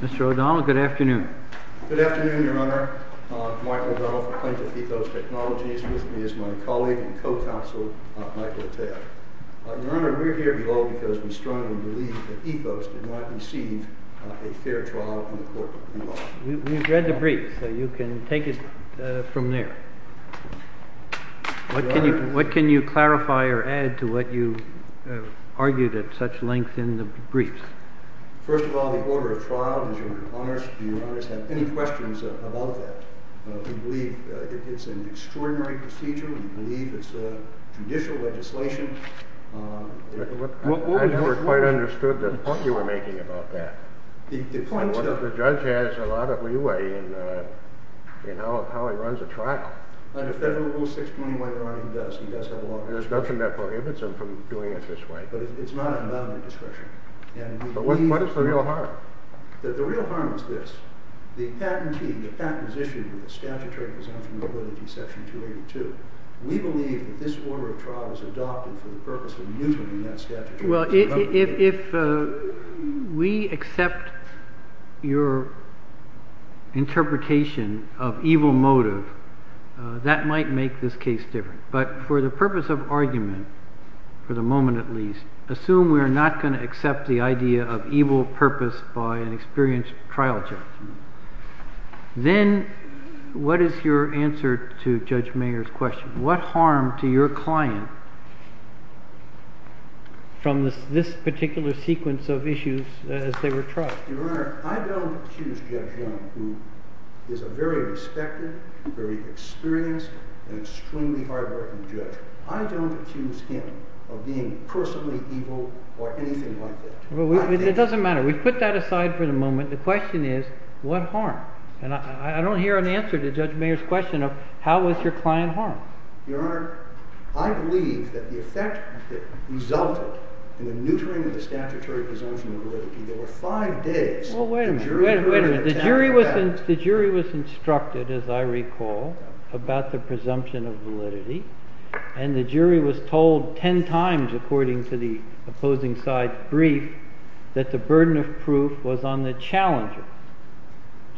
Mr. O'Donnell, good afternoon. Good afternoon, Your Honor. Michael O'Donnell from Plaintiff Ethos Technologies with me is my colleague and co-counsel Michael Atteo. Your Honor, we are here because we strongly believe that Ethos did not receive a fair trial in the court of criminal law. We've read the brief, so you can take it from there. What can you clarify or add to what you argued at such length in the brief? First of all, the order of trial, does Your Honor have any questions about that? We believe it's an extraordinary procedure. We believe it's judicial legislation. I never quite understood the point you were making about that. The point is that the judge has a lot of leeway in how he runs a trial. Under Federal Rule 6211, he does. He does have a lot of leeway. There's nothing that prohibits him from doing it this way. But it's not an amount of discretion. But what is the real harm? The real harm is this. The patentee, the patent is issued with a statutory presumption of liability, section 282. We believe that this order of trial is adopted for the purpose of mutating that statutory presumption. Well, if we accept your interpretation of evil motive, that might make this case different. But for the purpose of argument, for the moment at least, assume we are not going to accept the idea of evil purpose by an experienced trial judge. Then what is your answer to Judge Mayer's question? What harm to your client from this particular sequence of issues as they were tried? Your Honor, I don't accuse Judge Young, who is a very respected, very experienced, and extremely hardworking judge. I don't accuse him of being personally evil or anything like that. It doesn't matter. We've put that aside for the moment. The question is, what harm? And I don't hear an answer to Judge Mayer's question of, how was your client harmed? Your Honor, I believe that the effect that resulted in the neutering of the statutory presumption of validity, there were five days. Well, wait a minute. Wait a minute. The jury was instructed, as I recall, about the presumption of validity. And the jury was told 10 times, according to the opposing side's brief, that the burden of proof was on the challenger.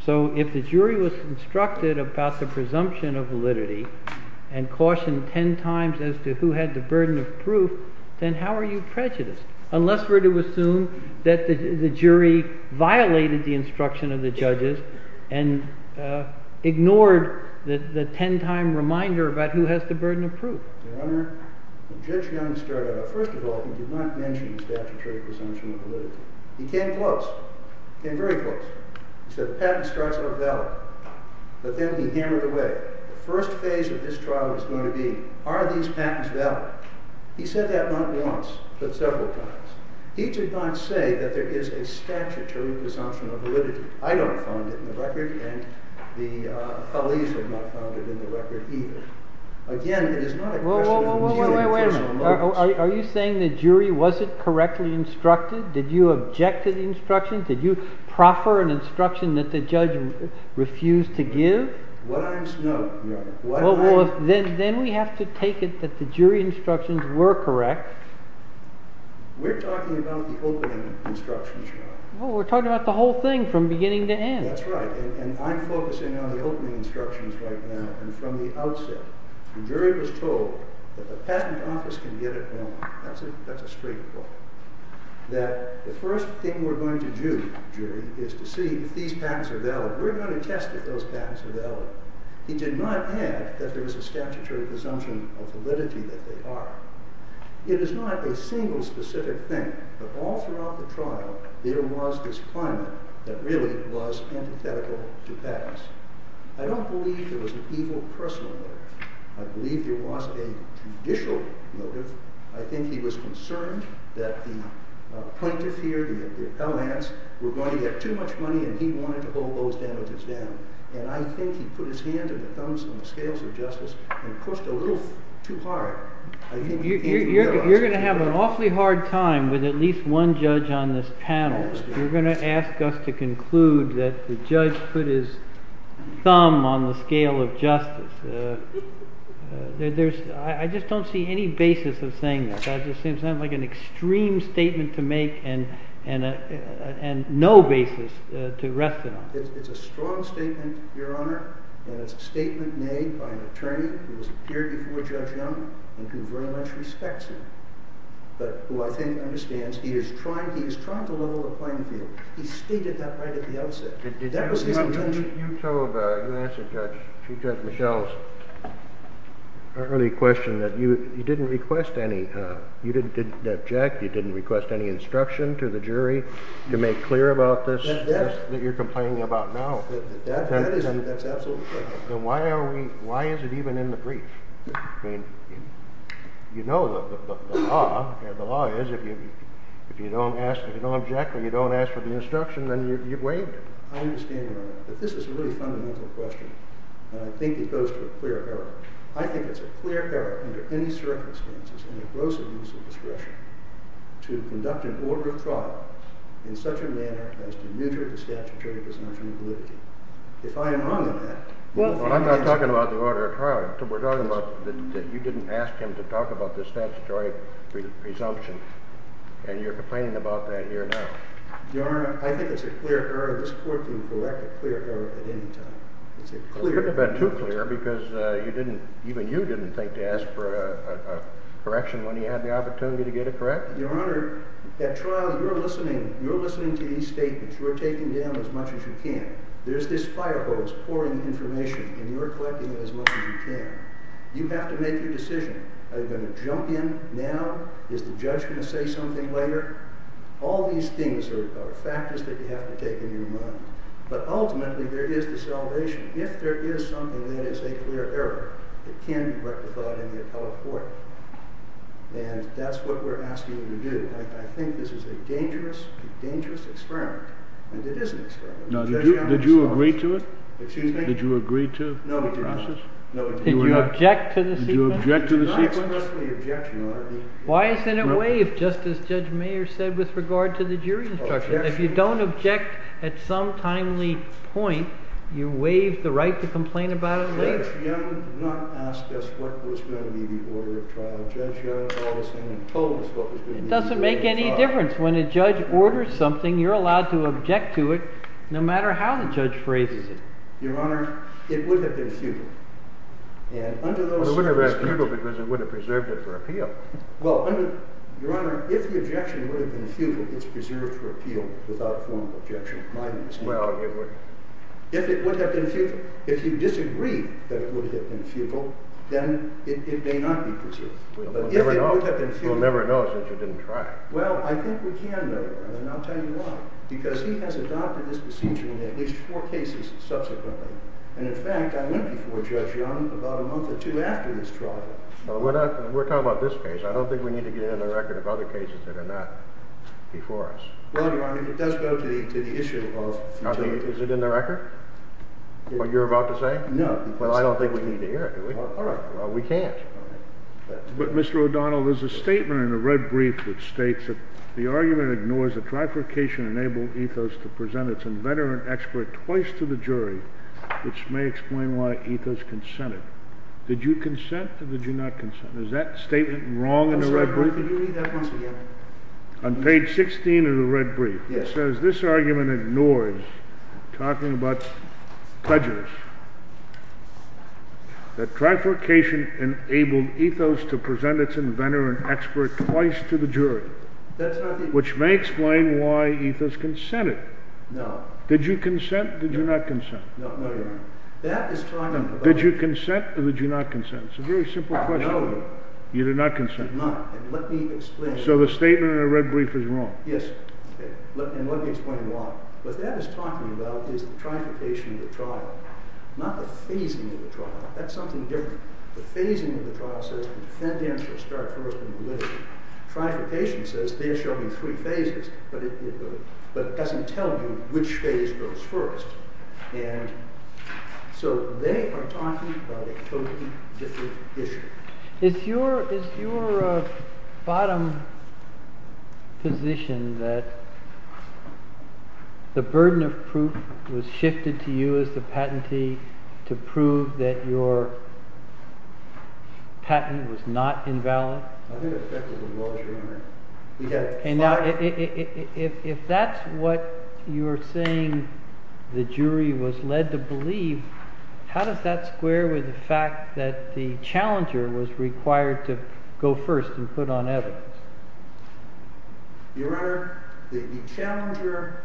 So if the jury was instructed about the presumption of validity and cautioned 10 times as to who had the burden of proof, then how are you prejudiced? Unless we're to assume that the jury violated the instruction of the judges and ignored the 10-time reminder about who has the burden of proof. Your Honor, Judge Young started out. First of all, he did not mention the statutory presumption of validity. He came close. He came very close. He said, patents starts are valid. But then he hammered away. The first phase of this trial is going to be, are these patents valid? He said that not once, but several times. He did not say that there is a statutory presumption of validity. I don't find it in the record, and the colleagues have not found it in the record either. Again, it is not a question of me having personal knowledge. Wait a minute. Are you saying the jury wasn't correctly instructed? Did you object to the instruction? Did you proffer an instruction that the judge refused to give? No, Your Honor. Then we have to take it that the jury instructions were correct. We're talking about the opening instructions, Your Honor. Well, we're talking about the whole thing from beginning to end. That's right, and I'm focusing on the opening instructions right now. And from the outset, the jury was told that the patent office can get it wrong. That's a straight point. That the first thing we're going to do, jury, is to see if these patents are valid. We're going to test if those patents are valid. He did not add that there was a statutory presumption of validity that they are. It is not a single specific thing, but all throughout the trial, there was this climate that really was antithetical to patents. I don't believe there was an evil personal motive. I believe there was a judicial motive. I think he was concerned that the plaintiff here, the appellants, were going to get too much money, and he wanted to hold those damages down. And I think he put his hand and the thumbs on the scales of justice and pushed a little too hard. You're going to have an awfully hard time with at least one judge on this panel. You're going to ask us to conclude that the judge put his thumb on the scale of justice. I just don't see any basis of saying that. That just seems like an extreme statement to make and no basis to rest it on. It's a strong statement, Your Honor, and it's a statement made by an attorney who has appeared before Judge Young and who very much respects him, but who I think understands he is trying to level the playing field. He stated that right at the outset. You asked Judge Michel's early question that you didn't request any. You didn't object. You didn't request any instruction to the jury to make clear about this that you're complaining about now. That's absolutely correct. Then why is it even in the brief? I mean, you know the law. The law is if you don't object or you don't ask for the instruction, then you've waived it. I understand, Your Honor, that this is a really fundamental question, and I think it goes to a clear error. I think it's a clear error under any circumstances in the gross abuse of discretion to conduct an order of trial in such a manner as to neuter the statutory presumption of validity. If I am wrong in that... Well, I'm not talking about the order of trial. We're talking about that you didn't ask him to talk about the statutory presumption, and you're complaining about that here now. Your Honor, I think it's a clear error. This court can correct a clear error at any time. It's a clear error. Well, it couldn't have been too clear because you didn't, even you didn't think to ask for a correction when you had the opportunity to get it corrected. Your Honor, at trial you're listening to these statements. You're taking down as much as you can. There's this fire hose pouring information, and you're collecting it as much as you can. You have to make your decision. Are you going to jump in now? Is the judge going to say something later? All these things are factors that you have to take in your mind, but ultimately there is the salvation. If there is something that is a clear error, it can be rectified in the appellate court, and that's what we're asking you to do. I think this is a dangerous, dangerous experiment, and it is an experiment. Now, did you agree to it? Excuse me? Did you agree to the process? No, we did not. Did you object to the sequence? I expressly object, Your Honor. Why isn't it waived, just as Judge Mayer said, with regard to the jury instruction? If you don't object at some timely point, you waive the right to complain about it later. You have not asked us what was going to be the order of trial, Judge. You haven't told us what was going to be the order of trial. It doesn't make any difference. When a judge orders something, you're allowed to object to it no matter how the judge phrases it. Your Honor, it would have been futile. It would have been futile because it would have preserved it for appeal. Well, Your Honor, if the objection would have been futile, it's preserved for appeal without formal objection, in my understanding. If it would have been futile. If you disagree that it would have been futile, then it may not be preserved. We'll never know. We'll never know since you didn't try. Well, I think we can, Your Honor, and I'll tell you why. Because he has adopted this procedure in at least four cases subsequently. And, in fact, I went before Judge Young about a month or two after his trial. Well, we're talking about this case. I don't think we need to get into the record of other cases that are not before us. Well, Your Honor, it does go to the issue of futility. Is it in the record, what you're about to say? No. Well, I don't think we need to hear it, do we? All right. Well, we can't. But, Mr. O'Donnell, there's a statement in the red brief which states that the argument ignores the trifurcation-enabled ethos to present its inventor and expert twice to the jury, which may explain why ethos consented. Did you consent or did you not consent? Is that statement wrong in the red brief? I'll say it again. Could you read that once again? On page 16 of the red brief. Yes. It says this argument ignores, talking about pledgers, which may explain why ethos consented. No. Did you consent or did you not consent? No, Your Honor. That is talking about- Did you consent or did you not consent? It's a very simple question. No, Your Honor. You did not consent. I did not. And let me explain- So the statement in the red brief is wrong. Yes. And let me explain why. What that is talking about is the trifurcation of the trial, not the phasing of the trial. That's something different. The phasing of the trial says the defendant shall start first in validity. The trifurcation says there shall be three phases, but it doesn't tell you which phase goes first. And so they are talking about a totally different issue. Is your bottom position that the burden of proof was shifted to you as the patentee to prove that your patent was not invalid? I think that's exactly the law, Your Honor. And now if that's what you're saying the jury was led to believe, how does that square with the fact that the challenger was required to go first and put on evidence? Your Honor, the challenger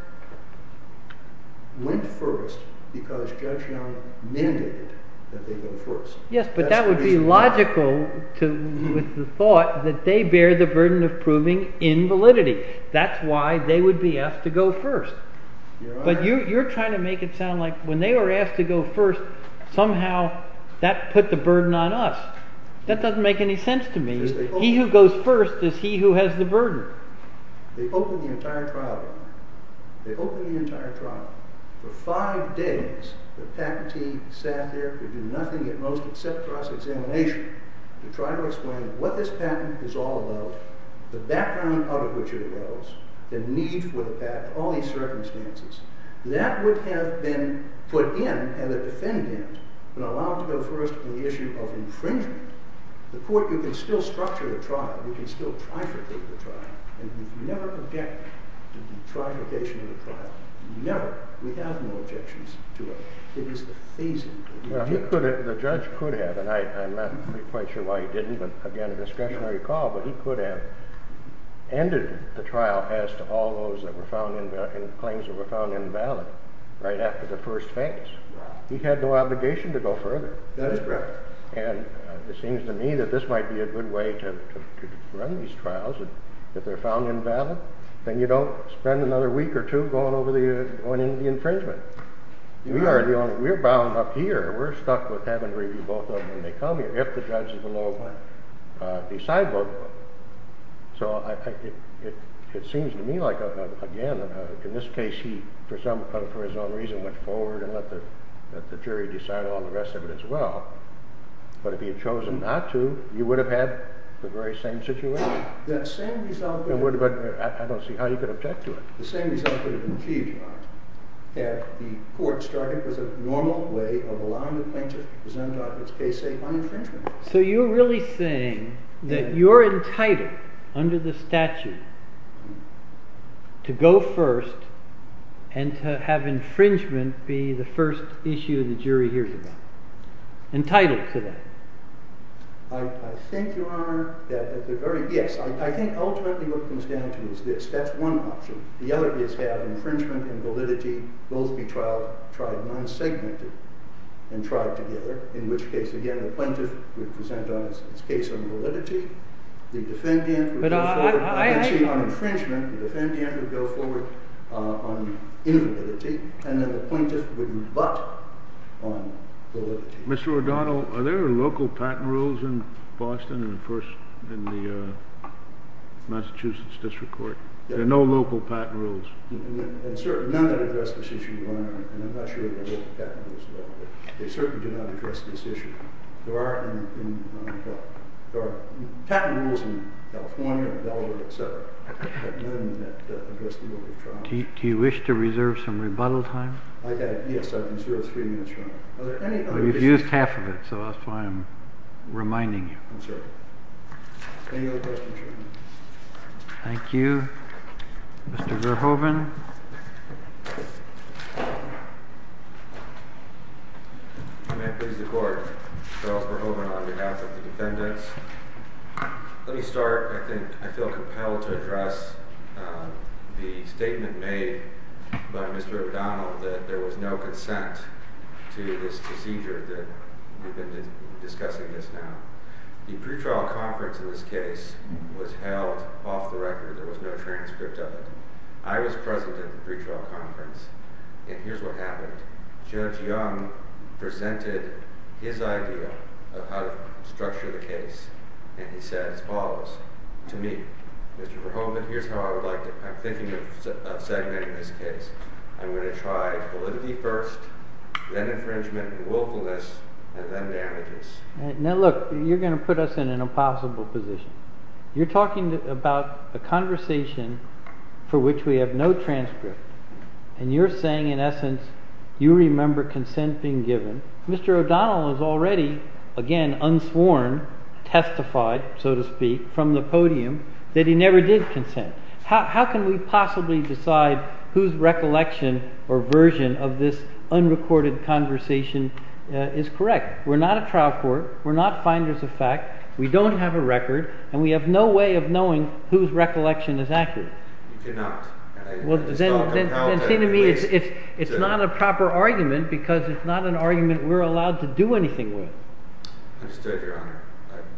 went first because Judge Young mandated that they go first. Yes, but that would be logical with the thought that they bear the burden of proving invalidity. That's why they would be asked to go first. But you're trying to make it sound like when they were asked to go first, somehow that put the burden on us. That doesn't make any sense to me. He who goes first is he who has the burden. They opened the entire trial room. They opened the entire trial room. For five days, the patentee sat there to do nothing at most except cross-examination to try to explain what this patent is all about, the background out of which it arose, the need for the patent, all these circumstances. That would have been put in, and the defendant would have been allowed to go first on the issue of infringement. The court could still structure the trial. We can still trifurcate the trial. And we've never objected to the trifurcation of the trial. Never. We have no objections to it. It was a phasing. The judge could have, and I'm not quite sure why he didn't, but again, a discretionary call, but he could have ended the trial as to all those claims that were found invalid right after the first phase. He had no obligation to go further. That's correct. And it seems to me that this might be a good way to run these trials. If they're found invalid, then you don't spend another week or two going into the infringement. We're bound up here. We're stuck with having to review both of them when they come here if the judge is allowed to decide both of them. So it seems to me like, again, in this case he, for his own reason, went forward and let the jury decide all the rest of it as well. But if he had chosen not to, you would have had the very same situation. I don't see how you could object to it. The same result could have been achieved by it had the court started with a normal way of allowing the plaintiff to present on its case a non-infringement. So you're really saying that you're entitled, under the statute, to go first and to have infringement be the first issue the jury hears about. Entitled to that. I think, Your Honor, that at the very, yes. I think ultimately what it comes down to is this. That's one option. The other is to have infringement and validity both be tried non-segmented and tried together. In which case, again, the plaintiff would present on its case on validity. The defendant would go forward. I'm not saying on infringement. The defendant would go forward on invalidity. And then the plaintiff would rebut on validity. Mr. O'Donnell, are there local patent rules in Boston in the Massachusetts District Court? There are no local patent rules. None that address this issue, Your Honor. And I'm not sure there are local patent rules there. They certainly do not address this issue. There are patent rules in California, Delaware, et cetera. But none that address the rule of trial. Do you wish to reserve some rebuttal time? Yes, I reserve three minutes, Your Honor. We've used half of it. So that's why I'm reminding you. I'm sorry. Any other questions, Your Honor? Thank you. Mr. Verhoeven. May I please the court? Charles Verhoeven on behalf of the defendants. Let me start. I feel compelled to address the statement made by Mr. O'Donnell that there was no consent to this procedure that we've been discussing just now. The pretrial conference of this case was held off the record. There was no transcript of it. I was present at the pretrial conference. And here's what happened. Judge Young presented his idea of how to structure the case. And he said as follows to me, Mr. Verhoeven, here's how I would like to, I'm thinking of segmenting this case. I'm going to try validity first, then infringement and willfulness, and then damages. Now look, you're going to put us in an impossible position. You're talking about a conversation for which we have no transcript. And you're saying, in essence, you remember consent being given. Mr. O'Donnell has already, again, unsworn, testified, so to speak, from the podium that he never did consent. How can we possibly decide whose recollection or version of this unrecorded conversation is correct? We're not a trial court. We're not finders of fact. We don't have a record. And we have no way of knowing whose recollection is accurate. You cannot. Well, then it seems to me it's not a proper argument, because it's not an argument we're allowed to do anything with. Understood, Your Honor.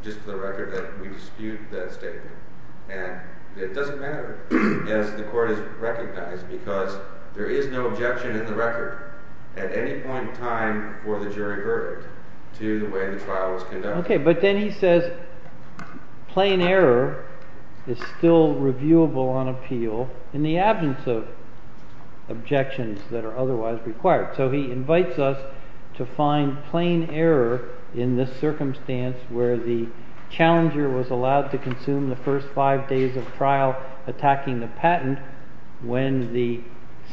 Just for the record, we dispute that statement. And it doesn't matter, as the court has recognized, because there is no objection in the record at any point in time for the jury verdict to the way the trial was conducted. OK, but then he says plain error is still reviewable on appeal in the absence of objections that are otherwise required. So he invites us to find plain error in this circumstance where the challenger was allowed to consume the first five days of trial attacking the patent when the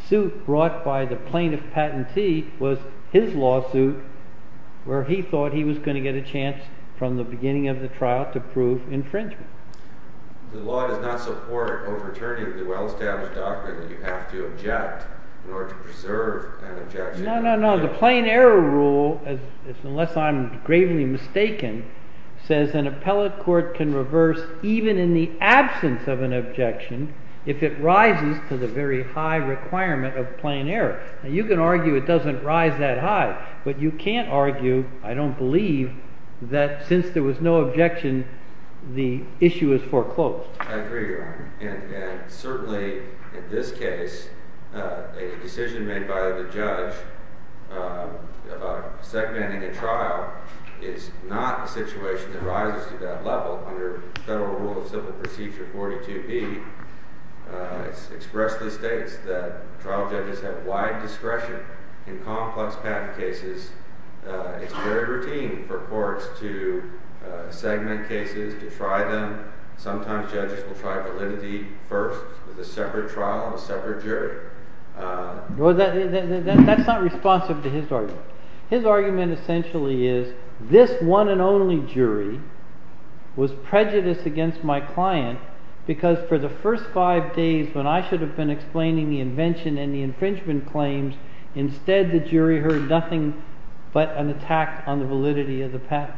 suit brought by the plaintiff patentee was his lawsuit where he thought he was going to get a chance from the beginning of the trial to prove infringement. The law does not support overturning the well-established doctrine that you have to object in order to preserve an objection. No, no, no. The plain error rule, unless I'm gravely mistaken, says an appellate court can reverse even in the absence of an objection if it rises to the very high requirement of plain error. Now, you can argue it doesn't rise that high. But you can't argue, I don't believe, that since there was no objection, the issue is foreclosed. I agree, Your Honor, and certainly in this case, a decision made by the judge about segmenting a trial is not a situation that rises to that level under Federal Rule of Civil Procedure 42B. It expressly states that trial judges have wide discretion in complex patent cases. It's very routine for courts to segment cases, to try them. Sometimes judges will try validity first with a separate trial and a separate jury. That's not responsive to his argument. His argument essentially is this one and only jury was prejudiced against my client because for the first five days when I should have been explaining the invention and the infringement claims, instead the jury heard nothing but an attack on the validity of the patent.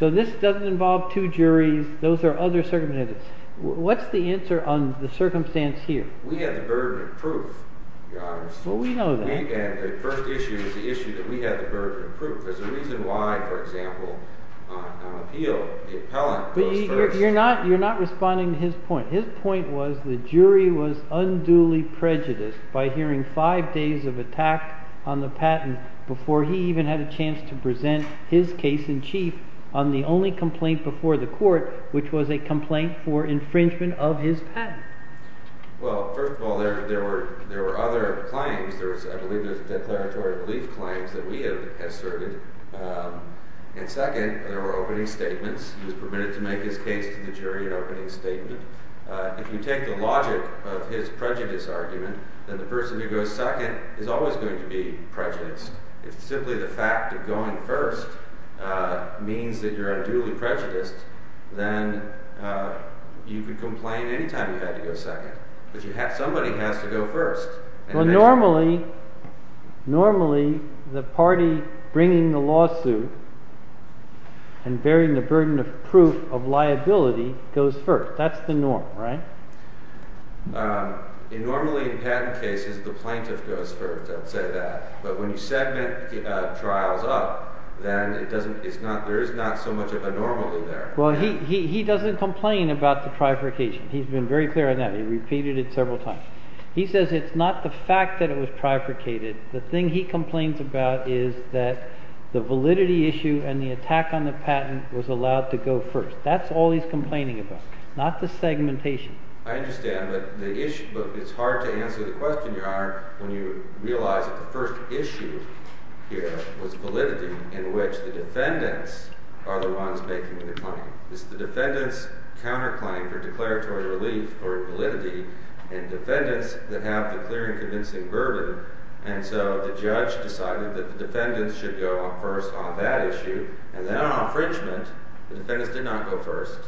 So this doesn't involve two juries. Those are other circumstances. What's the answer on the circumstance here? We have the burden of proof, Your Honor. Well, we know that. The first issue is the issue that we have the burden of proof. There's a reason why, for example, on appeal, the appellant goes first. You're not responding to his point. His point was the jury was unduly prejudiced by hearing five days of attack on the patent before he even had a chance to present his case in chief on the only complaint before the court, which was a complaint for infringement of his patent. Well, first of all, there were other claims. I believe there were declaratory belief claims that we have asserted. And second, there were opening statements. He was permitted to make his case to the jury in opening statement. If you take the logic of his prejudice argument, then the person who goes second is always going to be prejudiced. If simply the fact of going first means that you're unduly prejudiced, then you could complain any time you had to go second. But somebody has to go first. Well, normally the party bringing the lawsuit and bearing the burden of proof of liability goes first. That's the norm, right? Normally in patent cases, the plaintiff goes first. I would say that. But when you segment trials up, then there is not so much of a normally there. Well, he doesn't complain about the bifurcation. He's been very clear on that. He repeated it several times. He says it's not the fact that it was bifurcated. The thing he complains about is that the validity issue and the attack on the patent was allowed to go first. That's all he's complaining about, not the segmentation. I understand. But it's hard to answer the question, Your Honor, when you realize that the first issue here was validity in which the defendants are the ones making the claim. It's the defendants' counterclaim for declaratory relief or validity and defendants that have the clear and convincing burden. And so the judge decided that the defendants should go first on that issue. And then on infringement, the defendants did not go first.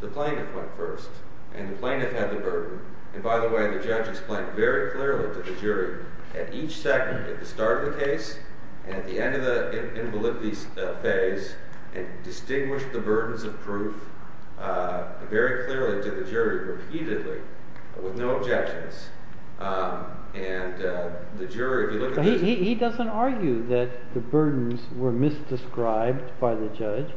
The plaintiff went first. And the plaintiff had the burden. And by the way, the judge explained very clearly to the jury at each segment at the start of the case and at the end of the invalidity phase and distinguished the burdens of proof very clearly to the jury repeatedly with no objections. And the jury, if you look at this, he doesn't argue that the burdens were misdescribed by the judge.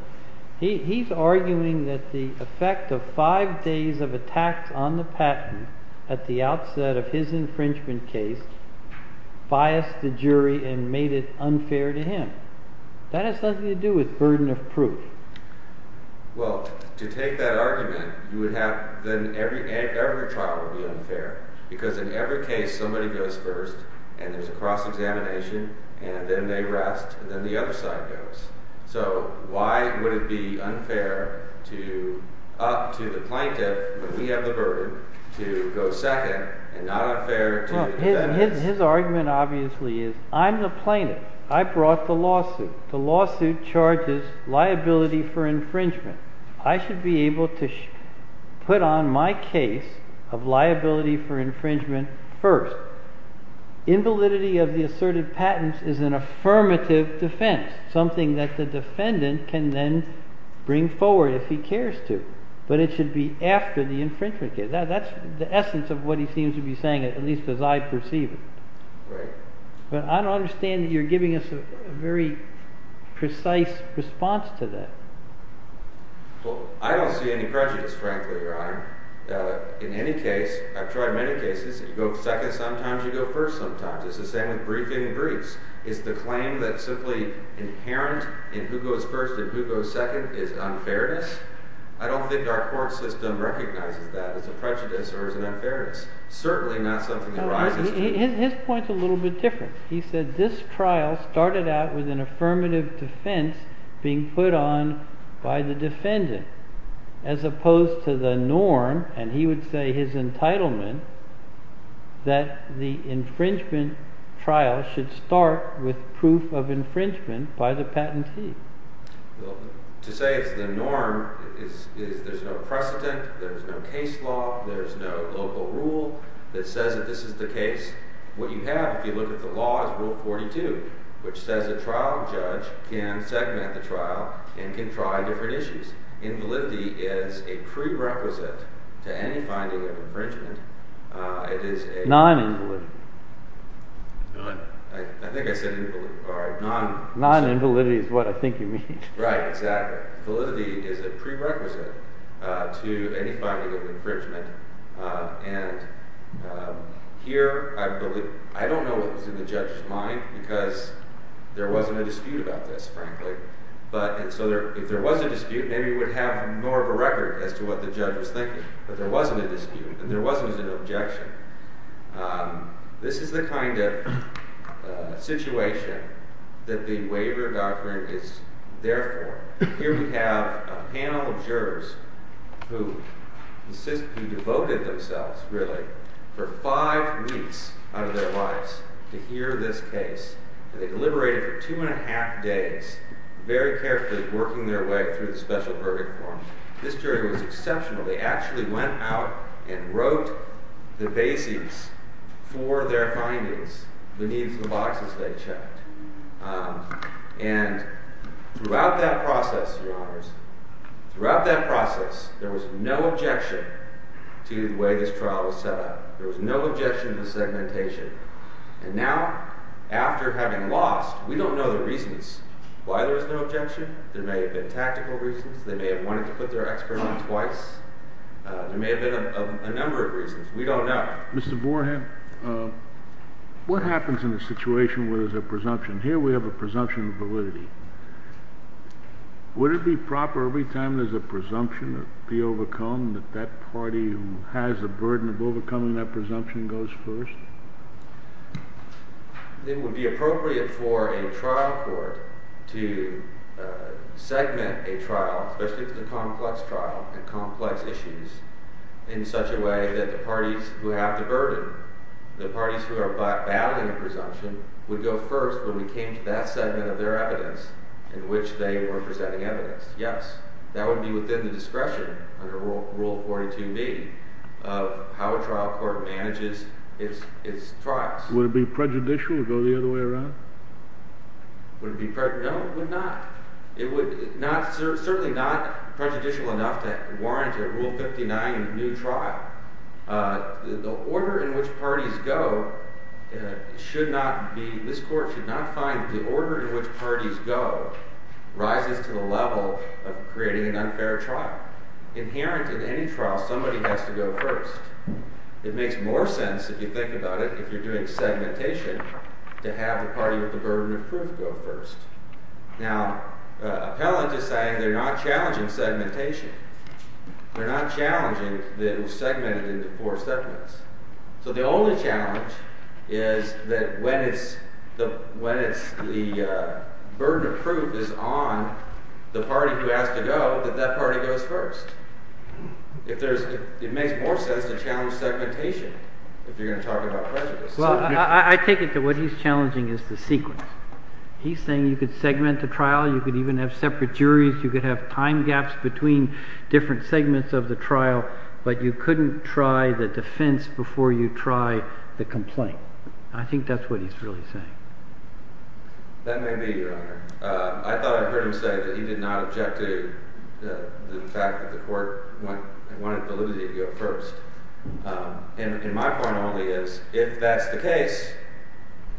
He's arguing that the effect of five days of attacks on the patent at the outset of his infringement case biased the jury and made it unfair to him. That has nothing to do with burden of proof. Well, to take that argument, then every trial would be unfair. Because in every case, somebody goes first. And there's a cross-examination. And then they rest. And then the other side goes. So why would it be unfair to the plaintiff, when we have the burden, to go second and not unfair to the defendants? Well, his argument, obviously, is I'm the plaintiff. I brought the lawsuit. The lawsuit charges liability for infringement. I should be able to put on my case of liability for infringement first. Invalidity of the asserted patents is an affirmative defense, something that the defendant can then bring forward if he cares to. But it should be after the infringement case. That's the essence of what he seems to be saying, at least as I perceive it. Right. But I don't understand that you're giving us a very precise response to that. Well, I don't see any prejudice, frankly, Your Honor. In any case, I've tried many cases. You go second sometimes. You go first sometimes. It's the same with briefing briefs. It's the claim that's simply inherent in who goes first and who goes second is unfairness. I don't think our court system recognizes that as a prejudice or as an unfairness. Certainly not something that rises to it. His point's a little bit different. He said this trial started out with an affirmative defense being put on by the defendant, as opposed to the norm, and he would say his entitlement, that the infringement trial should start with proof of infringement by the patentee. Well, to say it's the norm is there's no precedent. There's no case law. There's no local rule that says that this is the case. What you have, if you look at the law, is Rule 42, which says a trial judge can segment the trial and can try different issues. Invalidity is a prerequisite to any finding of infringement. Non-invalidity. I think I said non-invalidity. Non-invalidity is what I think you mean. Right, exactly. Validity is a prerequisite to any finding of infringement. And here, I don't know what was in the judge's mind, because there wasn't a dispute about this, frankly. And so if there was a dispute, maybe we would have more of a record as to what the judge was thinking. But there wasn't a dispute, and there wasn't an objection. This is the kind of situation that the waiver doctrine is there for. Here we have a panel of jurors who devoted themselves, really, for five weeks out of their lives to hear this case. And they deliberated for two and a half days, very carefully working their way through the special verdict form. This jury was exceptional. They actually went out and wrote the basis for their findings, beneath the boxes they checked. And throughout that process, Your Honors, throughout that process, there was no objection to the way this trial was set up. There was no objection to the segmentation. And now, after having lost, we don't know the reasons why there was no objection. There may have been tactical reasons. They may have wanted to put their expert on twice. There may have been a number of reasons. We don't know. Mr. Vorham, what happens in a situation where there's a presumption? Here we have a presumption of validity. Would it be proper, every time there's a presumption to be overcome, that that party who has the burden of overcoming that presumption goes first? It would be appropriate for a trial court to segment a trial, especially if it's a complex trial and complex issues, in such a way that the parties who have the burden, the parties who are battling a presumption, would go first when we came to that segment of their evidence in which they were presenting evidence. Yes. That would be within the discretion, under Rule 42B, of how a trial court manages its trials. Would it be prejudicial to go the other way around? Would it be prejudicial? No, it would not. It would certainly not be prejudicial enough to warrant a Rule 59 new trial. The order in which parties go should not be, this court should not find the order in which parties go rises to the level of creating an unfair trial. Inherent in any trial, somebody has to go first. It makes more sense, if you think about it, if you're doing segmentation, to have the party with the burden of proof go first. Now, Appellant is saying they're not challenging segmentation. They're not challenging that it was segmented into four segments. So the only challenge is that when the burden of proof is on the party who has to go, that that party goes first. It makes more sense to challenge segmentation if you're going to talk about prejudice. Well, I take it that what he's challenging is the sequence. He's saying you could segment the trial. You could even have separate juries. You could have time gaps between different segments of the trial. But you couldn't try the defense before you try the complaint. I think that's what he's really saying. That may be, Your Honor. I thought I heard him say that he did not object to the fact that the court wanted validity to go first. And my point only is, if that's the case,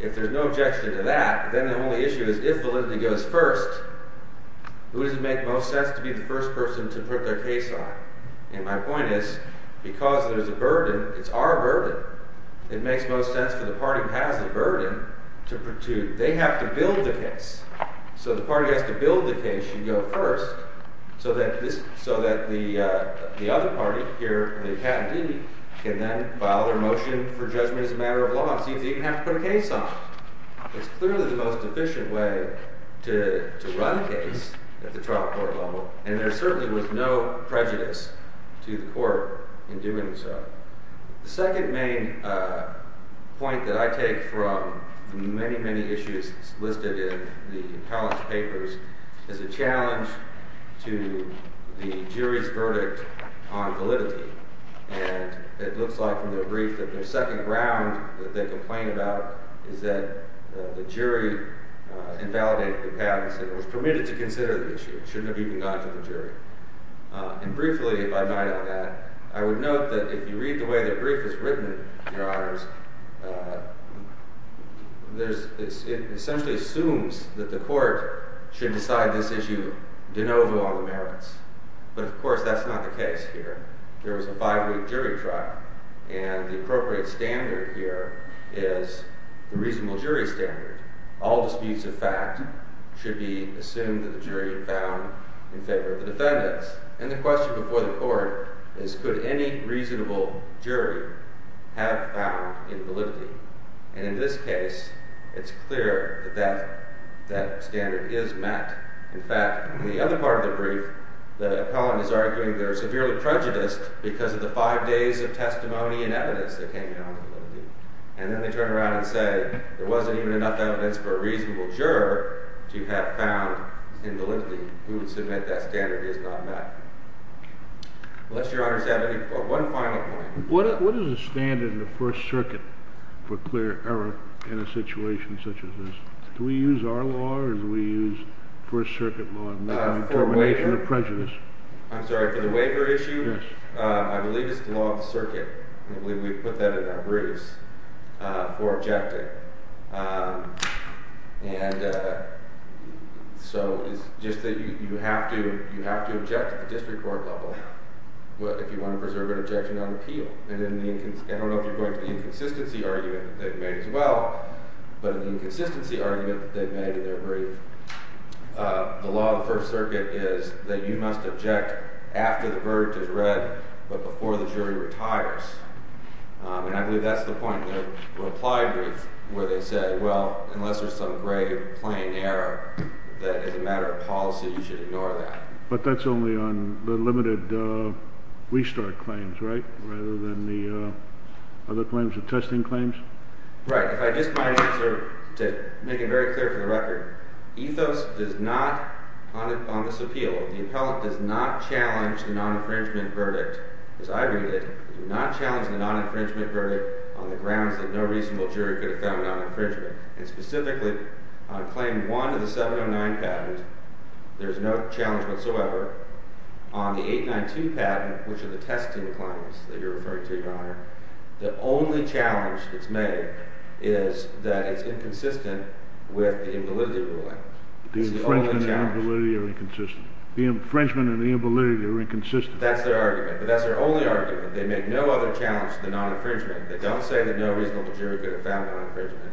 if there's no objection to that, then the only issue is if validity goes first, who does it make the most sense to be the first person to put their case on? And my point is, because there's a burden, it's our burden. It makes most sense for the party who has the burden to protrude. They have to build the case. So the party has to build the case and go first, so that the other party here, the attendee, can then file their motion for judgment as a matter of law and see if they even have to put a case on it. It's clearly the most efficient way to run a case at the trial court level. And there certainly was no prejudice to the court in doing so. The second main point that I take from the many, many issues listed in the appellant's papers is a challenge to the jury's verdict on validity. And it looks like from their brief that their second ground that they complain about is that the jury invalidated the patents. It was permitted to consider the issue. It shouldn't have even gone to the jury. And briefly, if I deny all that, I would note that if you read the way the brief is written, your honors, it essentially assumes that the court should decide this issue de novo on the merits. But of course, that's not the case here. There was a five-week jury trial. And the appropriate standard here is the reasonable jury standard. All disputes of fact should be assumed that the jury had found in favor of the defendants. And the question before the court is could any reasonable jury have found invalidity? And in this case, it's clear that that standard is met. In fact, in the other part of the brief, the appellant is arguing they're severely prejudiced because of the five days of testimony and evidence that came down to validity. And then they turn around and say, there wasn't even enough evidence for a reasonable juror to have found invalidity who would submit that standard is not met. Unless your honors have one final point. What is the standard in the First Circuit for clear error in a situation such as this? Do we use our law, or do we use First Circuit law to make a determination of prejudice? I'm sorry, for the waiver issue? Yes. I believe it's the law of the circuit. We put that in our briefs for objecting. And so it's just that you have to object at the district court level if you want to preserve an objection on appeal. And I don't know if you're going to the inconsistency argument that they've made as well. But in the inconsistency argument that they've made in their brief, the law of the First Circuit is that you must object after the verdict is read, but before the jury retires. And I believe that's the point. In the reply brief, where they say, well, unless there's some grave, plain error that is a matter of policy, you should ignore that. But that's only on the limited restart claims, right? Rather than the other claims, the testing claims? Right. If I just might answer to make it very clear for the record, Ethos does not, on this appeal, the appellant does not challenge the non-infringement verdict, as I read it, does not challenge the non-infringement verdict on the grounds that no reasonable jury could have found non-infringement. And specifically, on claim one of the 709 patents, there's no challenge whatsoever. On the 892 patent, which are the testing claims that you're referring to, Your Honor, the only challenge that's made is that it's inconsistent with the invalidity ruling. It's the only challenge. The infringement and invalidity are inconsistent. The infringement and the invalidity are inconsistent. That's their argument. But that's their only argument. They make no other challenge to the non-infringement. They don't say that no reasonable jury could have found non-infringement.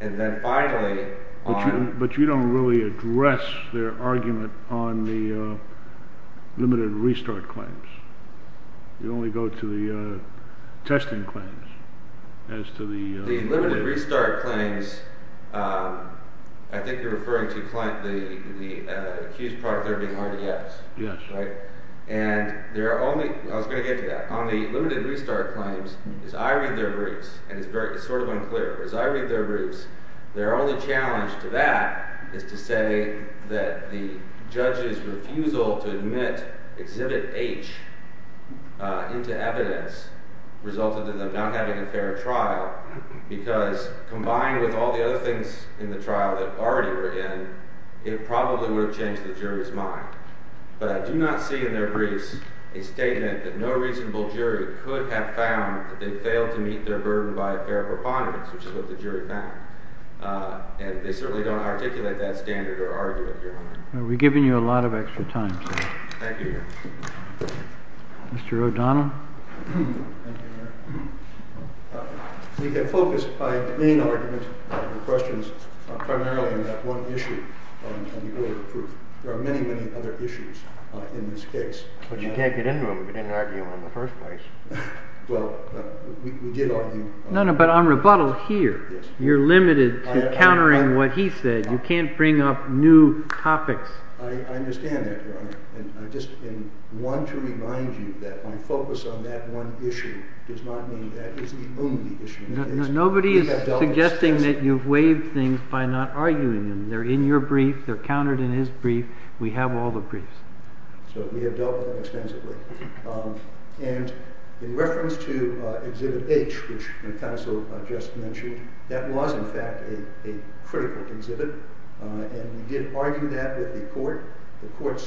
And then finally, on- But you don't really address their argument on the limited restart claims. You only go to the testing claims as to the- The limited restart claims, I think you're referring to the accused product there being RDS. Yes. Right? I was going to get to that. On the limited restart claims, as I read their roots, and it's sort of unclear, but as I read their roots, their only challenge to that is to say that the judge's refusal to admit Exhibit H into evidence resulted in them not having a fair trial. Because combined with all the other things in the trial that already were in, it probably would have changed the jury's mind. But I do not see in their briefs a statement that no reasonable jury could have found that they failed to meet their burden by a fair preponderance, which is what the jury found. And they certainly don't articulate that standard or argue it, Your Honor. Well, we've given you a lot of extra time, sir. Thank you, Your Honor. Mr. O'Donnell? Thank you, Your Honor. We get focused by main argument and questions primarily in that one issue on the order of truth. There are many, many other issues in this case. But you can't get into them if you didn't argue in the first place. Well, we did argue. No, no, but on rebuttal here, you're limited to countering what he said. You can't bring up new topics. I understand that, Your Honor. I just want to remind you that my focus on that one issue does not mean that is the only issue. Nobody is suggesting that you've waived things by not arguing them. They're in your brief. They're countered in his brief. We have all the briefs. So we have dealt with them extensively. And in reference to exhibit H, which the counsel just mentioned, that was, in fact, a critical exhibit. And we did argue that with the court. The court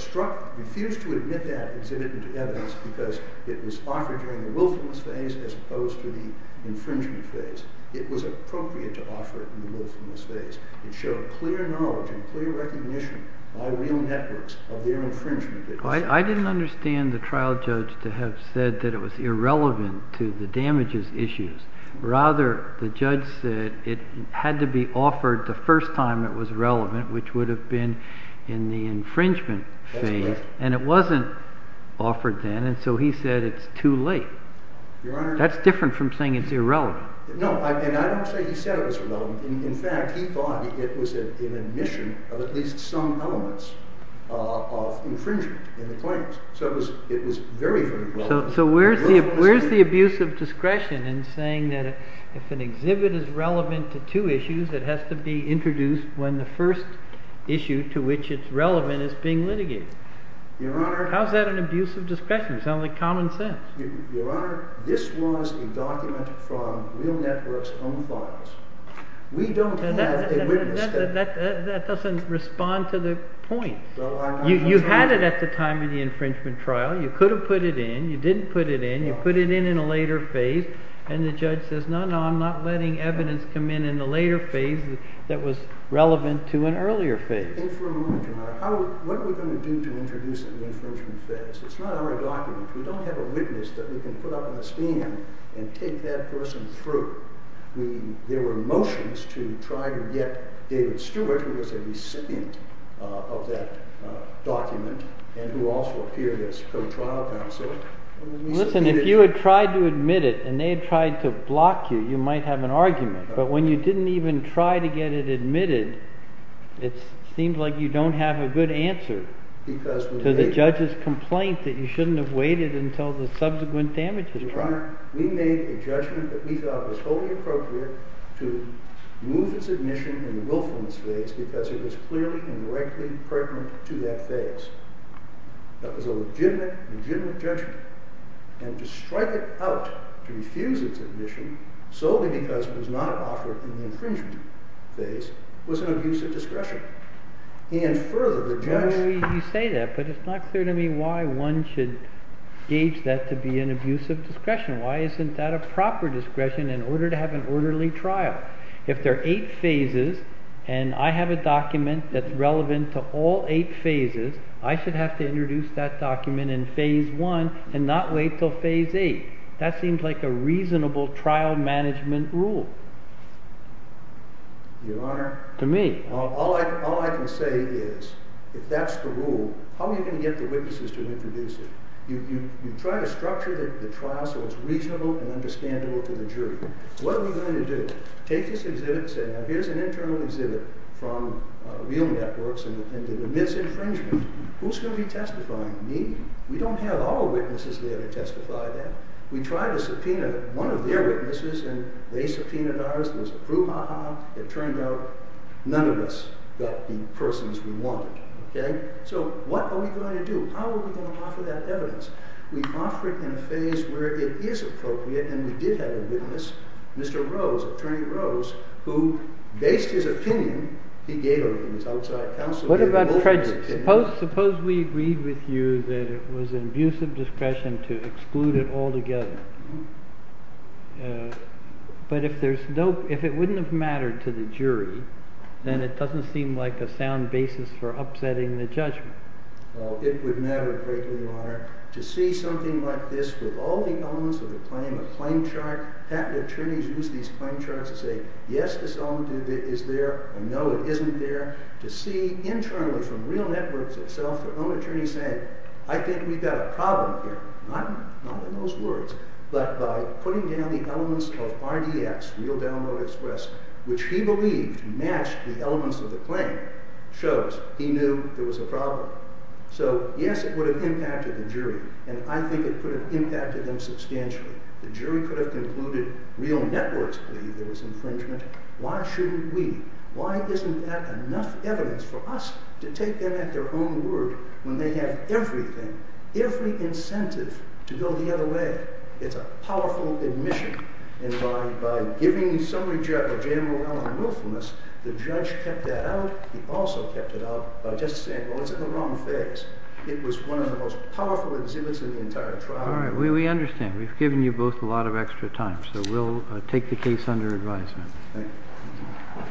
refused to admit that exhibit into evidence because it was offered during the willfulness phase as opposed to the infringement phase. It was appropriate to offer it in the willfulness phase. It showed clear knowledge and clear recognition by real networks of their infringement. I didn't understand the trial judge to have said that it was irrelevant to the damages issues. Rather, the judge said it had to be offered the first time it was relevant, which would have been in the infringement phase. That's correct. And it wasn't offered then. And so he said it's too late. Your Honor. That's different from saying it's irrelevant. No, and I don't say he said it was irrelevant. In fact, he thought it was an admission of at least some elements of infringement in the claims. So it was very, very relevant. So where's the abuse of discretion in saying that if an exhibit is relevant to two issues, it has to be introduced when the first issue to which it's relevant is being litigated? Your Honor. How's that an abuse of discretion? It's only common sense. Your Honor, this was a document from real networks' own files. We don't have a witness. That doesn't respond to the point. You had it at the time of the infringement trial. You could have put it in. You didn't put it in. You put it in in a later phase. And the judge says, no, no, I'm not letting evidence come in in the later phase that was relevant to an earlier phase. And for a moment, Your Honor, what are we going to do to introduce it in the infringement phase? It's not our document. We don't have a witness that we can put up in the stand and take that person through. There were motions to try to get David Stewart, who was a recipient of that document, and who also appeared as co-trial counsel. Listen, if you had tried to admit it and they had tried to block you, you might have an argument. But when you didn't even try to get it admitted, it seemed like you don't have a good answer to the judge's complaint that you shouldn't have waited until the subsequent damages. Your Honor, we made a judgment that we thought was wholly appropriate to move its admission in the willfulness phase because it was clearly and directly pertinent to that phase. That was a legitimate, legitimate judgment. And to strike it out to refuse its admission, solely because it was not offered in the infringement phase, was an abuse of discretion. And further, the judge. Why would you say that? But it's not clear to me why one should gauge that to be an abuse of discretion. Why isn't that a proper discretion in order to have an orderly trial? If there are eight phases, and I have a document that's relevant to all eight phases, I should have to introduce that document in phase one and not wait until phase eight. That seems like a reasonable trial management rule. Your Honor, all I can say is, if that's the rule, how are you going to get the witnesses to introduce it? You try to structure the trial so it's reasonable and understandable to the jury. What are we going to do? Take this exhibit and say, now, here's an internal exhibit from real networks and the misinfringement. Who's going to be testifying? Me. We don't have all witnesses there to testify that. We tried to subpoena one of their witnesses, and they subpoenaed ours. It was a brouhaha. It turned out none of us got the persons we wanted. So what are we going to do? How are we going to offer that evidence? We offer it in a phase where it is appropriate, and we did have a witness, Mr. Rose, Attorney Rose, who based his opinion, he gave it to his outside counsel. What about prejudice? Suppose we agreed with you that it was an abuse of discretion to exclude it altogether. But if it wouldn't have mattered to the jury, then it doesn't seem like a sound basis for upsetting the judgment. Well, it would matter greatly, Your Honor, to see something like this with all the elements of the claim, a claim chart. Patent attorneys use these claim charts to say, yes, this element is there, and no, it isn't there. To see internally from real networks itself their own attorney saying, I think we've got a problem here. Not in those words, but by putting down the elements of RDS, Real Download Express, which he believed matched the elements of the claim, shows he knew there was a problem. So yes, it would have impacted the jury, and I think it could have impacted them substantially. The jury could have concluded real networks believe there was infringement. Why shouldn't we? Why isn't that enough evidence for us to take them at their own word when they have everything, every incentive to go the other way? It's a powerful admission. And by giving so much general willfulness, the judge kept that out. He also kept it out by just saying, well, it's in the wrong face. It was one of the most powerful exhibits in the entire trial. All right, we understand. We've given you both a lot of extra time, so we'll take the case under advisement. Thank you.